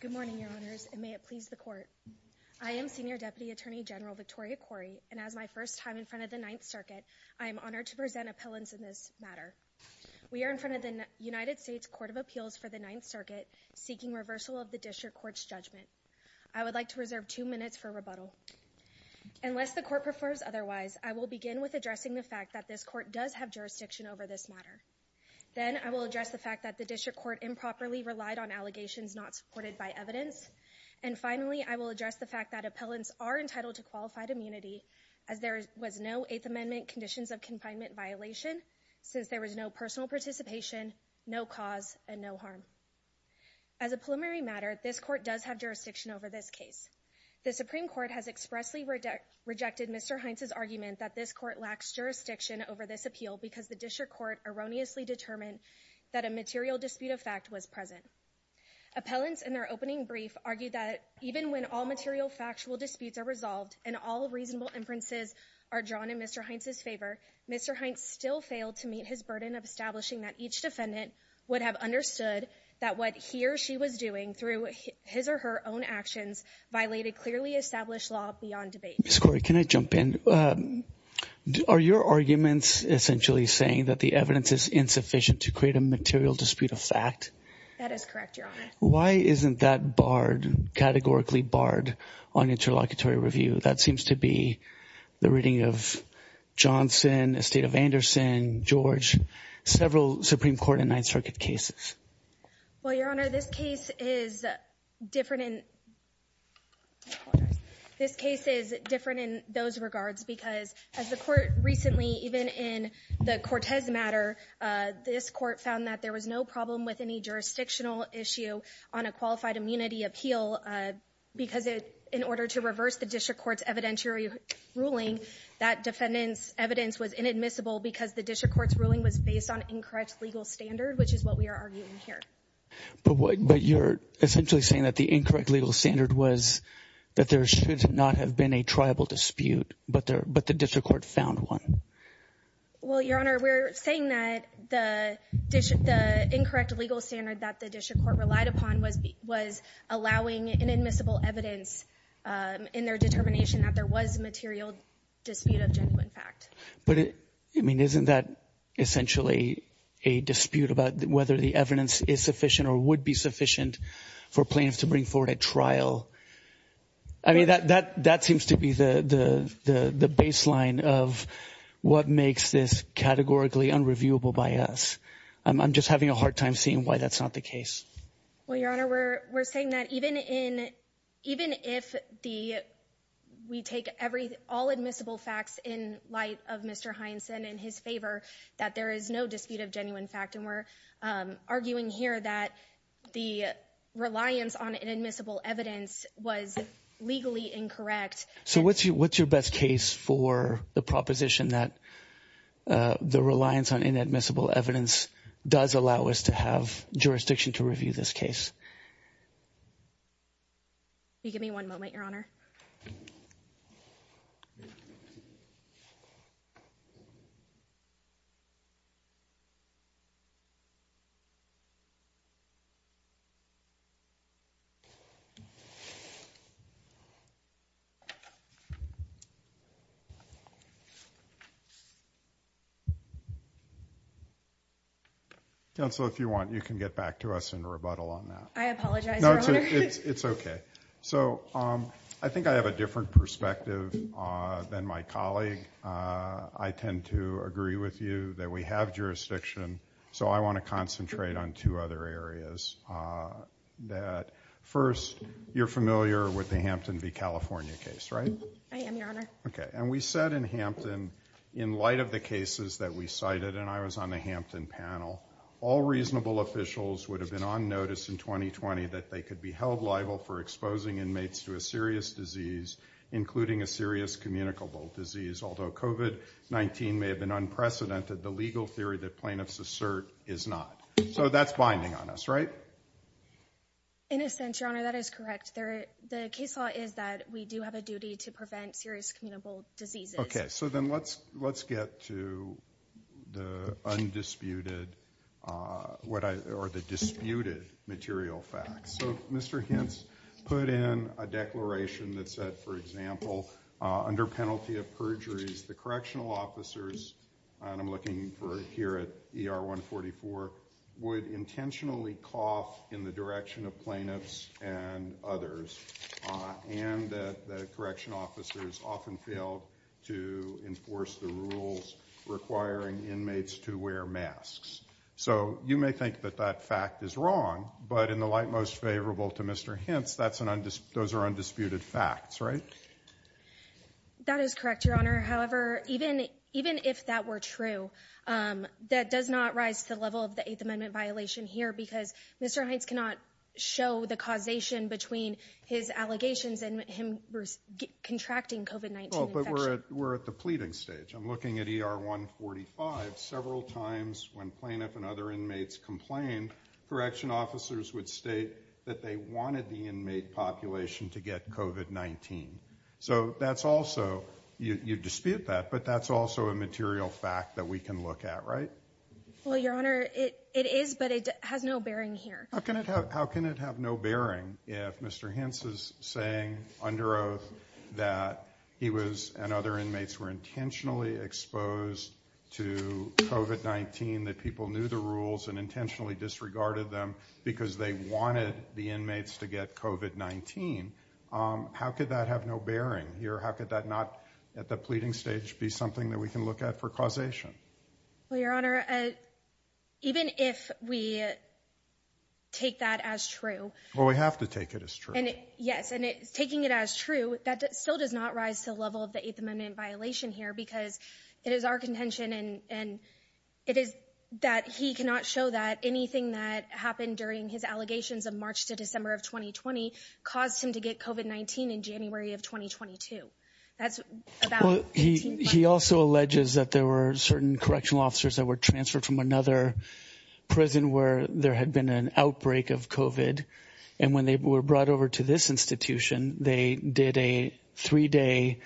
Good morning, Your Honors, and may it please the Court. I am Senior Deputy Attorney General Victoria Quarry, and as my first time in front of the Ninth Circuit, I am honored to present appellants in this matter. We are in front of the United States Court of Appeals for the Ninth Circuit, seeking reversal of the District Court's judgment. I would like to reserve two minutes for rebuttal. Unless the Court prefers otherwise, I will begin with addressing the fact that this Court does have jurisdiction over this matter. Then I will address the fact that the District Court improperly relied on allegations not supported by evidence. And finally, I will address the fact that appellants are entitled to qualified immunity, as there was no Eighth Amendment conditions of confinement violation, since there was no personal participation, no cause, and no harm. As a preliminary matter, this Court does have jurisdiction over this case. The Supreme Court has expressly rejected Mr. Hintze's argument that this Court lacks jurisdiction over this appeal because the District Court erroneously determined that a material dispute of fact was present. Appellants in their opening brief argued that even when all material factual disputes are resolved and all reasonable inferences are drawn in Mr. Hintze's favor, Mr. Hintze still failed to meet his burden of establishing that each defendant would have understood that what he or she was doing through his or her own actions violated clearly established law beyond debate. Ms. Corey, can I jump in? Are your arguments essentially saying that the evidence is insufficient to create a material dispute of fact? That is correct, Your Honor. Why isn't that barred, categorically barred, on interlocutory review? That seems to be the reading of Johnson, Estate of Anderson, George, several Supreme Court and Ninth Circuit cases. Well, Your Honor, this case is different in those regards because as the Court recently, even in the Cortez matter, this Court found that there was no problem with any jurisdictional issue on a qualified immunity appeal because in order to reverse the district court's evidentiary ruling, that defendant's evidence was inadmissible because the district court's ruling was based on incorrect legal standard, which is what we are arguing here. But you're essentially saying that the incorrect legal standard was that there should not have been a tribal dispute, but the district court found one. Well, Your Honor, we're saying that the incorrect legal standard that the district court relied upon was allowing inadmissible evidence in their determination that there was a material dispute of genuine fact. But isn't that essentially a dispute about whether the evidence is sufficient or would be sufficient for plaintiffs to bring forward at trial? I mean, that seems to be the baseline of what makes this categorically unreviewable by us. I'm just having a hard time seeing why that's not the case. Well, Your Honor, we're saying that even if we take all admissible facts in light of Mr. Heinsen and his favor, that there is no dispute of genuine fact. And we're arguing here that the reliance on inadmissible evidence was legally incorrect. So what's your best case for the proposition that the reliance on inadmissible evidence does allow us to have jurisdiction to review this case? Can you give me one moment, Your Honor? Counsel, if you want, you can get back to us and rebuttal on that. I apologize, Your Honor. No, it's okay. So I think I have a different perspective than my colleague. I tend to agree with you that we have jurisdiction, so I want to concentrate on two other areas. First, you're familiar with the Hampton v. California case, right? I am, Your Honor. Okay. And we said in Hampton, in light of the cases that we cited, and I was on the Hampton panel, all reasonable officials would have been on notice in 2020 that they could be held liable for exposing inmates to a serious disease, including a serious communicable disease. Although COVID-19 may have been unprecedented, the legal theory that plaintiffs assert is not. So that's binding on us, right? In a sense, Your Honor, that is correct. The case law is that we do have a duty to prevent serious communicable diseases. Okay. So then let's get to the undisputed or the disputed material facts. So Mr. Hintz put in a declaration that said, for example, under penalty of perjuries, the correctional officers, and I'm looking here at ER 144, would intentionally cough in the direction of plaintiffs and others, and that the correctional officers often failed to enforce the rules requiring inmates to wear masks. So you may think that that fact is wrong, but in the light most favorable to Mr. Hintz, those are undisputed facts, right? That is correct, Your Honor. However, even if that were true, that does not rise to the level of the Eighth Amendment violation here, because Mr. Hintz cannot show the causation between his allegations and him contracting COVID-19 infection. Well, but we're at the pleading stage. I'm looking at ER 145. Several times when plaintiff and other inmates complained, correctional officers would state that they wanted the inmate population to get COVID-19. So that's also, you dispute that, but that's also a material fact that we can look at, right? Well, Your Honor, it is, but it has no bearing here. How can it have no bearing if Mr. Hintz is saying under oath that he was and other inmates were intentionally exposed to COVID-19, that people knew the rules and intentionally disregarded them because they wanted the inmates to get COVID-19? How could that have no bearing here? How could that not at the pleading stage be something that we can look at for causation? Well, Your Honor, even if we take that as true. Well, we have to take it as true. Yes, and taking it as true, that still does not rise to the level of the Eighth Amendment violation here because it is our contention and it is that he cannot show that anything that happened during his allegations of March to December of 2020 caused him to get COVID-19 in January of 2022. He also alleges that there were certain correctional officers that were transferred from another prison where there had been an outbreak of COVID. And when they were brought over to this institution, they did a three-day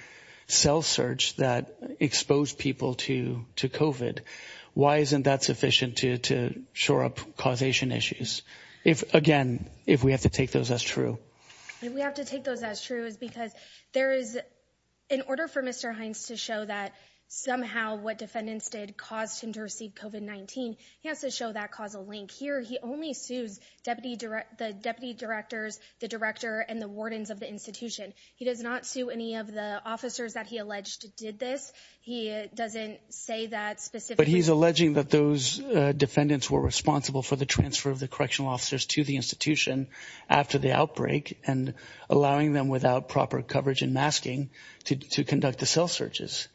cell search that exposed people to COVID. Why isn't that sufficient to shore up causation issues? Again, if we have to take those as true. If we have to take those as true is because there is, in order for Mr. Hintz to show that somehow what defendants did caused him to receive COVID-19, he has to show that causal link. Here, he only sues the deputy directors, the director, and the wardens of the institution. He does not sue any of the officers that he alleged did this. He doesn't say that specifically. But he's alleging that those defendants were responsible for the transfer of the correctional officers to the institution after the outbreak and allowing them without proper coverage and masking to conduct the cell searches.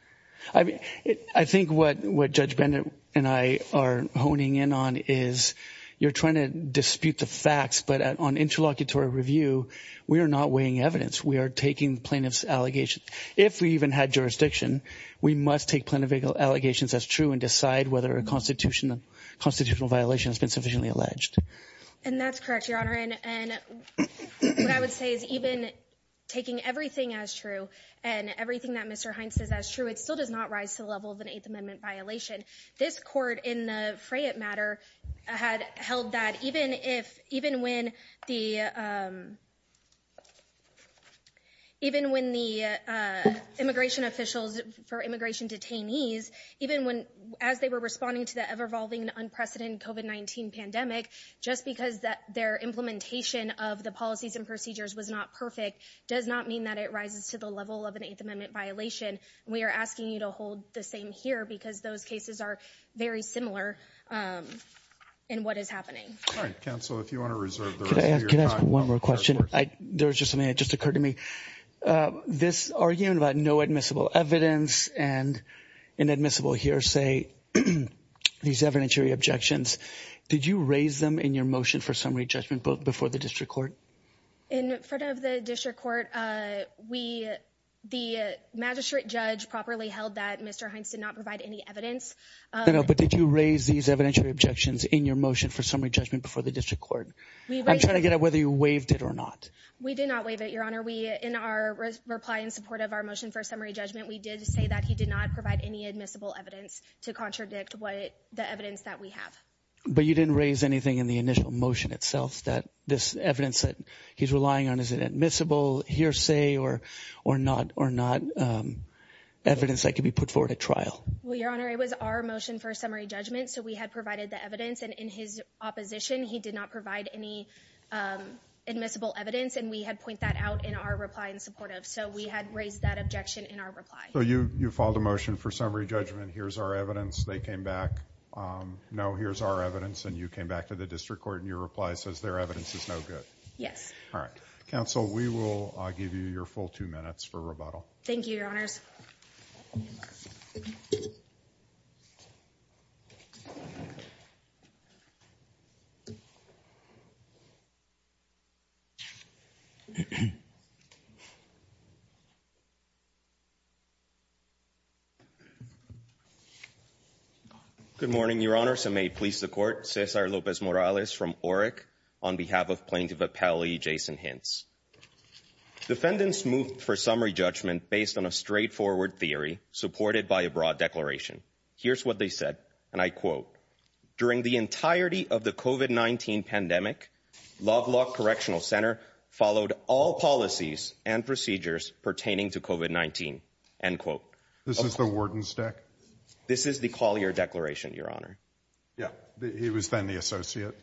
I think what Judge Bennett and I are honing in on is you're trying to dispute the facts, but on interlocutory review, we are not weighing evidence. We are taking plaintiff's allegations. If we even had jurisdiction, we must take plaintiff's allegations as true and decide whether a constitutional violation has been sufficiently alleged. And that's correct, Your Honor. And what I would say is even taking everything as true and everything that Mr. Hintz says as true, it still does not rise to the level of an Eighth Amendment violation. This court in the Freyette matter had held that even when the immigration officials, for immigration detainees, even as they were responding to the ever-evolving and unprecedented COVID-19 pandemic, just because their implementation of the policies and procedures was not perfect does not mean that it rises to the level of an Eighth Amendment violation. We are asking you to hold the same here because those cases are very similar in what is happening. All right, counsel, if you want to reserve the rest of your time. Can I ask one more question? There was just something that just occurred to me. This argument about no admissible evidence and inadmissible hearsay, these evidentiary objections, did you raise them in your motion for summary judgment before the district court? In front of the district court, the magistrate judge properly held that Mr. Hintz did not provide any evidence. But did you raise these evidentiary objections in your motion for summary judgment before the district court? I'm trying to get at whether you waived it or not. We did not waive it, Your Honor. In our reply in support of our motion for summary judgment, we did say that he did not provide any admissible evidence to contradict the evidence that we have. But you didn't raise anything in the initial motion itself that this evidence that he's relying on, is it admissible hearsay or not evidence that could be put forward at trial? Well, Your Honor, it was our motion for summary judgment, so we had provided the evidence. And in his opposition, he did not provide any admissible evidence. And we had pointed that out in our reply in support of. So we had raised that objection in our reply. So you filed a motion for summary judgment. Here's our evidence. They came back. No, here's our evidence. And you came back to the district court and your reply says their evidence is no good. Yes. All right. Counsel, we will give you your full two minutes for rebuttal. Thank you, Your Honors. Thank you, Your Honor. Good morning, Your Honors. I may please the court. Cesar Lopez-Morales from ORIC on behalf of Plaintiff Appellee Jason Hintz. Defendants moved for summary judgment based on a straightforward theory supported by a broad declaration. Here's what they said. And I quote, During the entirety of the COVID-19 pandemic, Loglock Correctional Center followed all policies and procedures pertaining to COVID-19. End quote. This is the warden's deck? This is the Collier Declaration, Your Honor. Yeah. He was then the associate.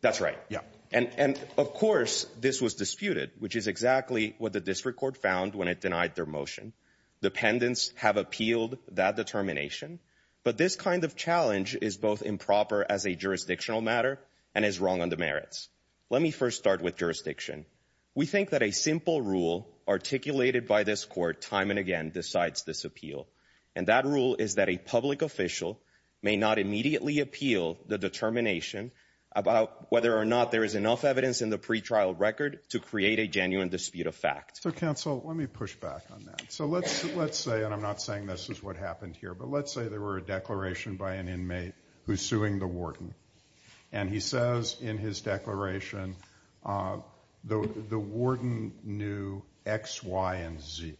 That's right. Yeah. And of course, this was disputed, which is exactly what the district court found when it denied their motion. Dependents have appealed that determination. But this kind of challenge is both improper as a jurisdictional matter and is wrong on the merits. Let me first start with jurisdiction. We think that a simple rule articulated by this court time and again decides this appeal. And that rule is that a public official may not immediately appeal the determination about whether or not there is enough evidence in the pretrial record to create a genuine dispute of fact. So, counsel, let me push back on that. So let's say, and I'm not saying this is what happened here, but let's say there were a declaration by an inmate who's suing the warden. And he says in his declaration, the warden knew X, Y, and Z.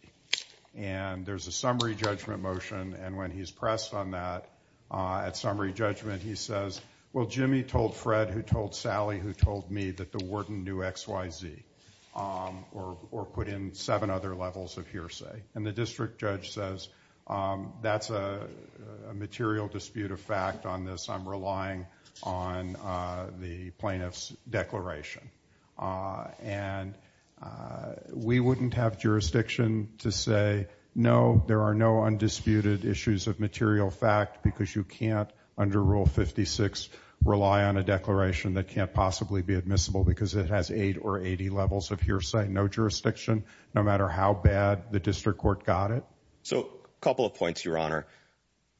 And there's a summary judgment motion, and when he's pressed on that at summary judgment, he says, well, Jimmy told Fred who told Sally who told me that the warden knew X, Y, Z. Or put in seven other levels of hearsay. And the district judge says, that's a material dispute of fact on this. I'm relying on the plaintiff's declaration. And we wouldn't have jurisdiction to say, no, there are no undisputed issues of material fact, because you can't, under Rule 56, rely on a declaration that can't possibly be admissible, because it has eight or 80 levels of hearsay. No jurisdiction, no matter how bad the district court got it. So, a couple of points, Your Honor.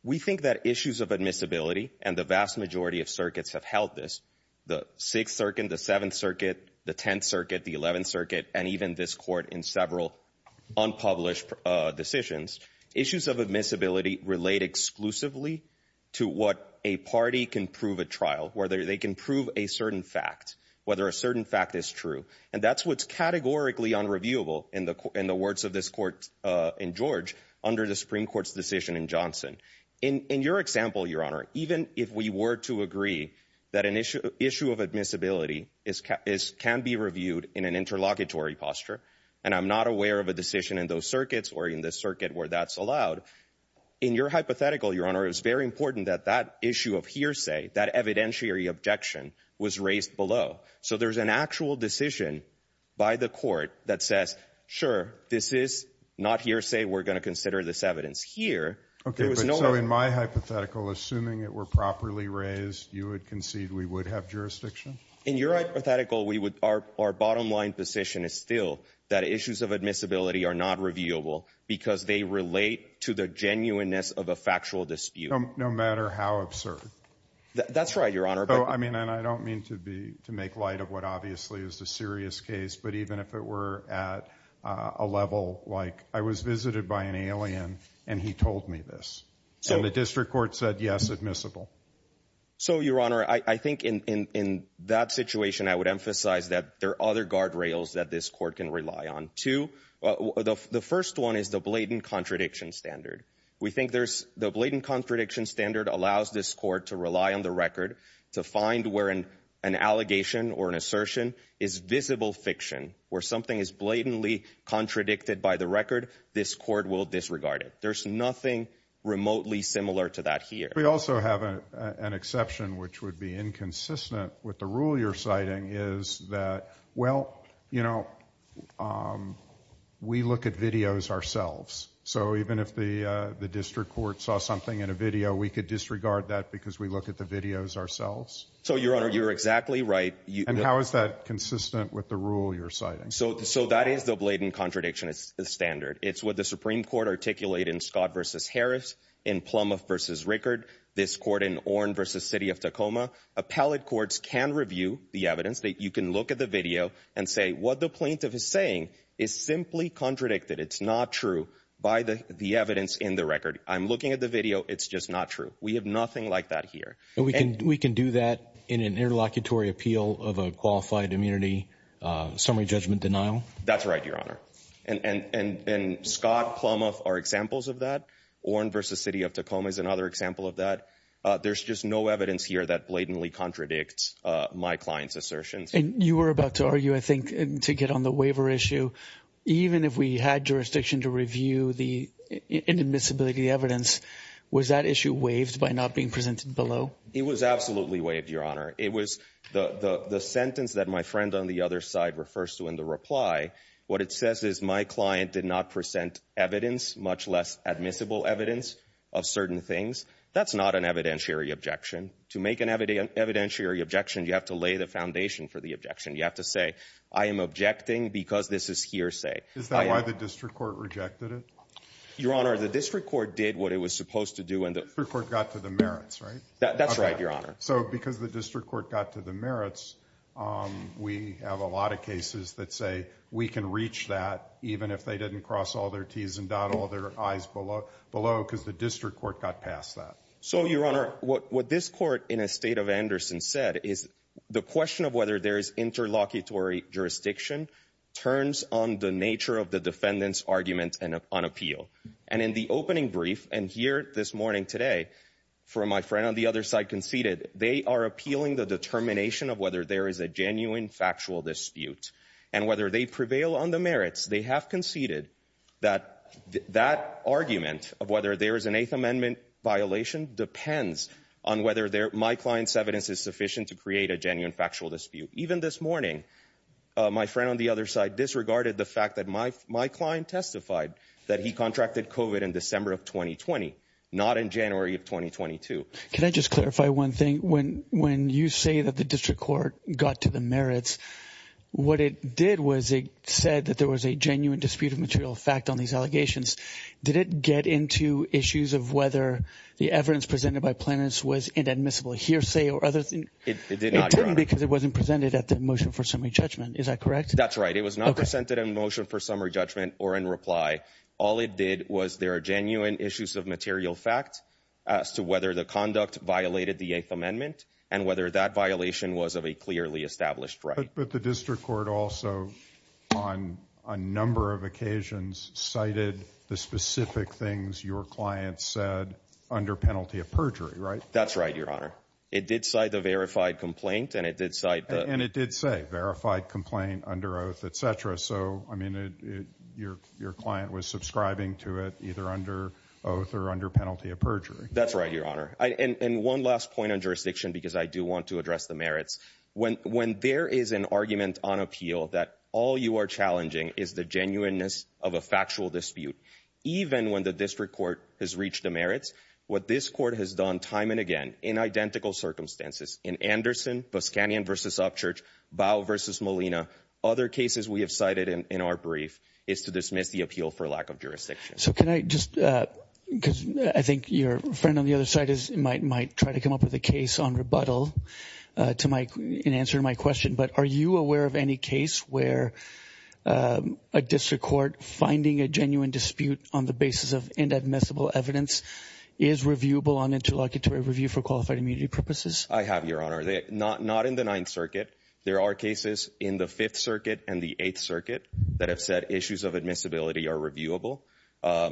We think that issues of admissibility, and the vast majority of circuits have held this. The Sixth Circuit, the Seventh Circuit, the Tenth Circuit, the Eleventh Circuit, and even this Court in several unpublished decisions. Issues of admissibility relate exclusively to what a party can prove at trial, whether they can prove a certain fact, whether a certain fact is true. And that's what's categorically unreviewable in the words of this Court in George, under the Supreme Court's decision in Johnson. In your example, Your Honor, even if we were to agree that an issue of admissibility can be reviewed in an interlocutory posture, and I'm not aware of a decision in those circuits or in the circuit where that's allowed, in your hypothetical, Your Honor, it's very important that that issue of hearsay, that evidentiary objection, was raised below. So there's an actual decision by the Court that says, sure, this is not hearsay, we're going to consider this evidence. So in my hypothetical, assuming it were properly raised, you would concede we would have jurisdiction? In your hypothetical, our bottom line position is still that issues of admissibility are not reviewable because they relate to the genuineness of a factual dispute. No matter how absurd? That's right, Your Honor. I don't mean to make light of what obviously is the serious case, but even if it were at a level like, I was visited by an alien, and he told me this, and the district court said, yes, admissible. So, Your Honor, I think in that situation, I would emphasize that there are other guardrails that this Court can rely on. Two, the first one is the blatant contradiction standard. We think there's, the blatant contradiction standard allows this Court to rely on the record to find where an allegation or an assertion is visible fiction, where something is blatantly contradicted by the record, this Court will disregard it. There's nothing remotely similar to that here. We also have an exception which would be inconsistent with the rule you're citing is that, well, you know, we look at videos ourselves. So even if the district court saw something in a video, we could disregard that because we look at the videos ourselves? So, Your Honor, you're exactly right. And how is that consistent with the rule you're citing? So that is the blatant contradiction standard. It's what the Supreme Court articulated in Scott v. Harris, in Plumoff v. Rickard, this Court in Oren v. City of Tacoma. Appellate courts can review the evidence. You can look at the video and say what the plaintiff is saying is simply contradicted. It's not true by the evidence in the record. I'm looking at the video. It's just not true. We have nothing like that here. We can do that in an interlocutory appeal of a qualified immunity summary judgment denial. That's right, Your Honor. And Scott, Plumoff are examples of that. Oren v. City of Tacoma is another example of that. There's just no evidence here that blatantly contradicts my client's assertions. And you were about to argue, I think, to get on the waiver issue, even if we had jurisdiction to review the inadmissibility of the evidence, was that issue waived by not being presented below? It was absolutely waived, Your Honor. It was the sentence that my friend on the other side refers to in the reply. What it says is my client did not present evidence, much less admissible evidence of certain things. That's not an evidentiary objection. To make an evidentiary objection, you have to lay the foundation for the objection. You have to say, I am objecting because this is hearsay. Is that why the district court rejected it? Your Honor, the district court did what it was supposed to do. The district court got to the merits, right? That's right, Your Honor. So because the district court got to the merits, we have a lot of cases that say we can reach that, even if they didn't cross all their T's and dot all their I's below, because the district court got past that. So, Your Honor, what this court in a state of Anderson said is the question of whether there is interlocutory jurisdiction turns on the nature of the defendant's argument on appeal. And in the opening brief, and here this morning today, for my friend on the other side conceded, they are appealing the determination of whether there is a genuine factual dispute. And whether they prevail on the merits, they have conceded that that argument of whether there is an Eighth Amendment violation depends on whether my client's evidence is sufficient to create a genuine factual dispute. Even this morning, my friend on the other side disregarded the fact that my client testified that he contracted COVID in December of 2020, not in January of 2022. Can I just clarify one thing? When you say that the district court got to the merits, what it did was it said that there was a genuine dispute of material fact on these allegations. Did it get into issues of whether the evidence presented by plaintiffs was inadmissible hearsay or other things? It did not, Your Honor. It didn't because it wasn't presented at the motion for summary judgment. Is that correct? That's right. It was not presented in motion for summary judgment or in reply. All it did was there are genuine issues of material fact as to whether the conduct violated the Eighth Amendment and whether that violation was of a clearly established right. But the district court also, on a number of occasions, cited the specific things your client said under penalty of perjury, right? That's right, Your Honor. It did cite the verified complaint and it did cite the... And it did say verified complaint under oath, etc. So, I mean, your client was subscribing to it either under oath or under penalty of perjury. That's right, Your Honor. And one last point on jurisdiction because I do want to address the merits. When there is an argument on appeal that all you are challenging is the genuineness of a factual dispute, even when the district court has reached the merits, what this court has done time and again in identical circumstances, in Anderson, Buscanyan v. Upchurch, Bow v. Molina, other cases we have cited in our brief is to dismiss the appeal for lack of jurisdiction. So can I just, because I think your friend on the other side might try to come up with a case on rebuttal in answer to my question, but are you aware of any case where a district court finding a genuine dispute on the basis of inadmissible evidence is reviewable on interlocutory review for qualified immunity purposes? I have, Your Honor. Not in the Ninth Circuit. There are cases in the Fifth Circuit and the Eighth Circuit that have said issues of admissibility are reviewable.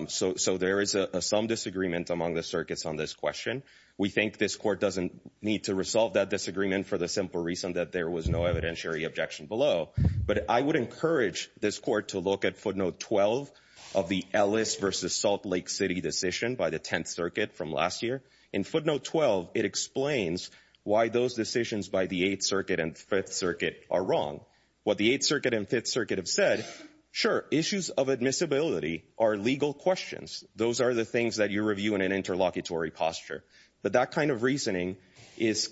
So there is some disagreement among the circuits on this question. We think this court doesn't need to resolve that disagreement for the simple reason that there was no evidentiary objection below. But I would encourage this court to look at footnote 12 of the Ellis v. Salt Lake City decision by the Tenth Circuit from last year. In footnote 12, it explains why those decisions by the Eighth Circuit and Fifth Circuit are wrong. What the Eighth Circuit and Fifth Circuit have said, sure, issues of admissibility are legal questions. Those are the things that you review in an interlocutory posture. But that kind of reasoning is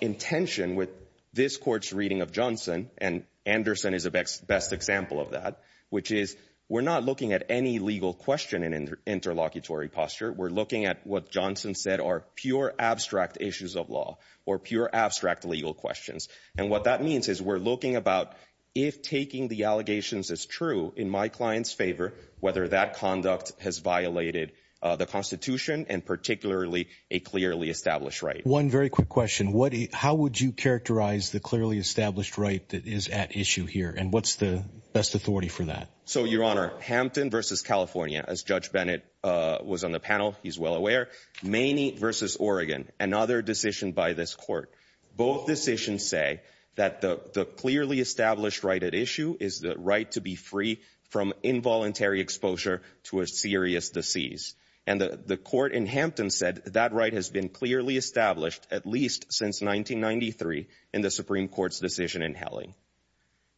in tension with this court's reading of Johnson, and Anderson is a best example of that, which is we're not looking at any legal question in interlocutory posture. We're looking at what Johnson said are pure abstract issues of law or pure abstract legal questions. And what that means is we're looking about if taking the allegations as true in my client's favor, whether that conduct has violated the Constitution and particularly a clearly established right. One very quick question. How would you characterize the clearly established right that is at issue here, and what's the best authority for that? So, Your Honor, Hampton v. California, as Judge Bennett was on the panel, he's well aware. Maney v. Oregon, another decision by this court. Both decisions say that the clearly established right at issue is the right to be free from involuntary exposure to a serious disease. And the court in Hampton said that right has been clearly established at least since 1993 in the Supreme Court's decision in Helling.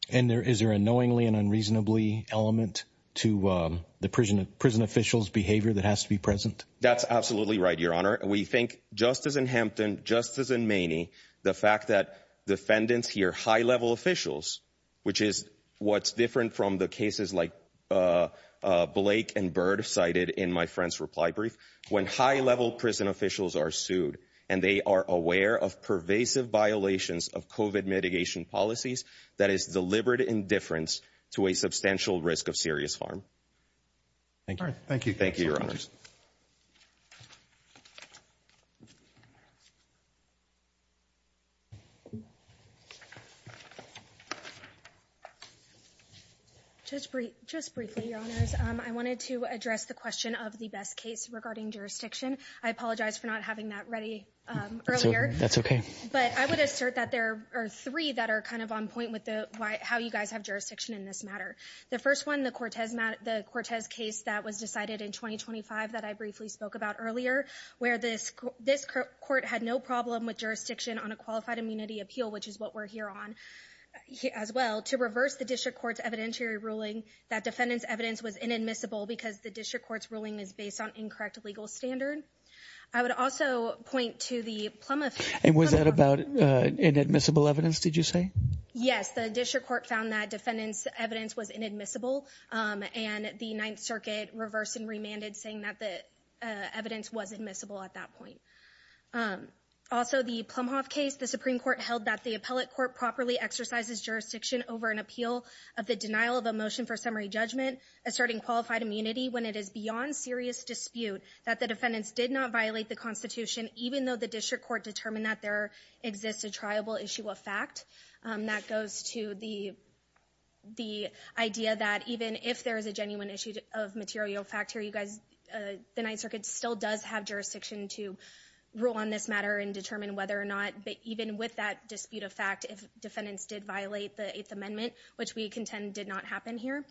And is there a knowingly and unreasonably element to the prison official's behavior that has to be present? That's absolutely right, Your Honor. We think, just as in Hampton, just as in Maney, the fact that defendants hear high-level officials, which is what's different from the cases like Blake and Byrd cited in my friend's reply brief, when high-level prison officials are sued, and they are aware of pervasive violations of COVID mitigation policies that is deliberate indifference to a substantial risk of serious harm. Thank you. All right. Thank you. Thank you, Your Honors. Just briefly, Your Honors, I wanted to address the question of the best case regarding jurisdiction. I apologize for not having that ready earlier. That's okay. But I would assert that there are three that are kind of on point with how you guys have jurisdiction in this matter. The first one, the Cortez case that was decided in 2025 that I briefly spoke about earlier, where this court had no problem with jurisdiction on a qualified immunity appeal, which is what we're here on as well, to reverse the district court's evidentiary ruling that defendant's evidence was inadmissible because the district court's ruling is based on incorrect legal standard. I would also point to the plumb of it. And was that about inadmissible evidence, did you say? Yes, the district court found that defendant's evidence was inadmissible and the Ninth Circuit reversed and remanded saying that the evidence was admissible at that point. Also, the Plumhoff case, the Supreme Court held that the appellate court properly exercises jurisdiction over an appeal of the denial of a motion for summary judgment asserting qualified immunity when it is beyond serious dispute that the defendants did not violate the Constitution, even though the district court determined that there exists a triable issue of fact. That goes to the idea that even if there is a genuine issue of material fact here, you guys, the Ninth Circuit still does have jurisdiction to rule on this matter and determine whether or not, even with that dispute of fact, if defendants did violate the Eighth Amendment, which we contend did not happen here.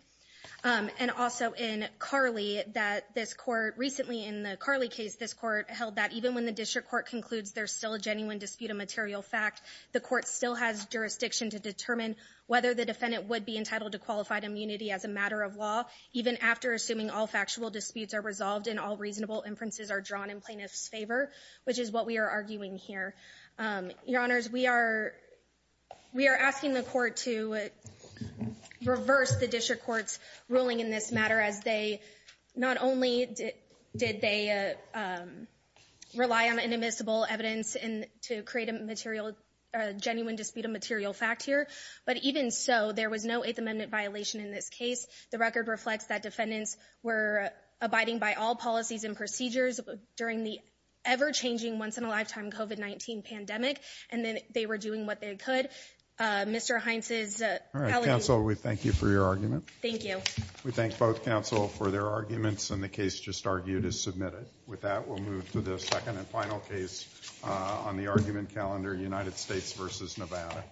And also in Carley, that this court, recently in the Carley case, this court held that even when the district court concludes there's still a genuine dispute of material fact, the court still has jurisdiction to determine whether the defendant would be entitled to qualified immunity as a matter of law, even after assuming all factual disputes are resolved and all reasonable inferences are drawn in plaintiff's favor, which is what we are arguing here. Your Honors, we are asking the court to reverse the district court's ruling in this matter as they, not only did they rely on inadmissible evidence to create a genuine dispute of material fact here, but even so, there was no Eighth Amendment violation in this case. The record reflects that defendants were abiding by all policies and procedures during the ever-changing, once-in-a-lifetime COVID-19 pandemic, and then they were doing what they could. Mr. Heinz's allegation... All right, counsel, we thank you for your argument. Thank you. We thank both counsel for their arguments and the case just argued is submitted. With that, we'll move to the second and final case on the argument calendar, United States v. Nevada.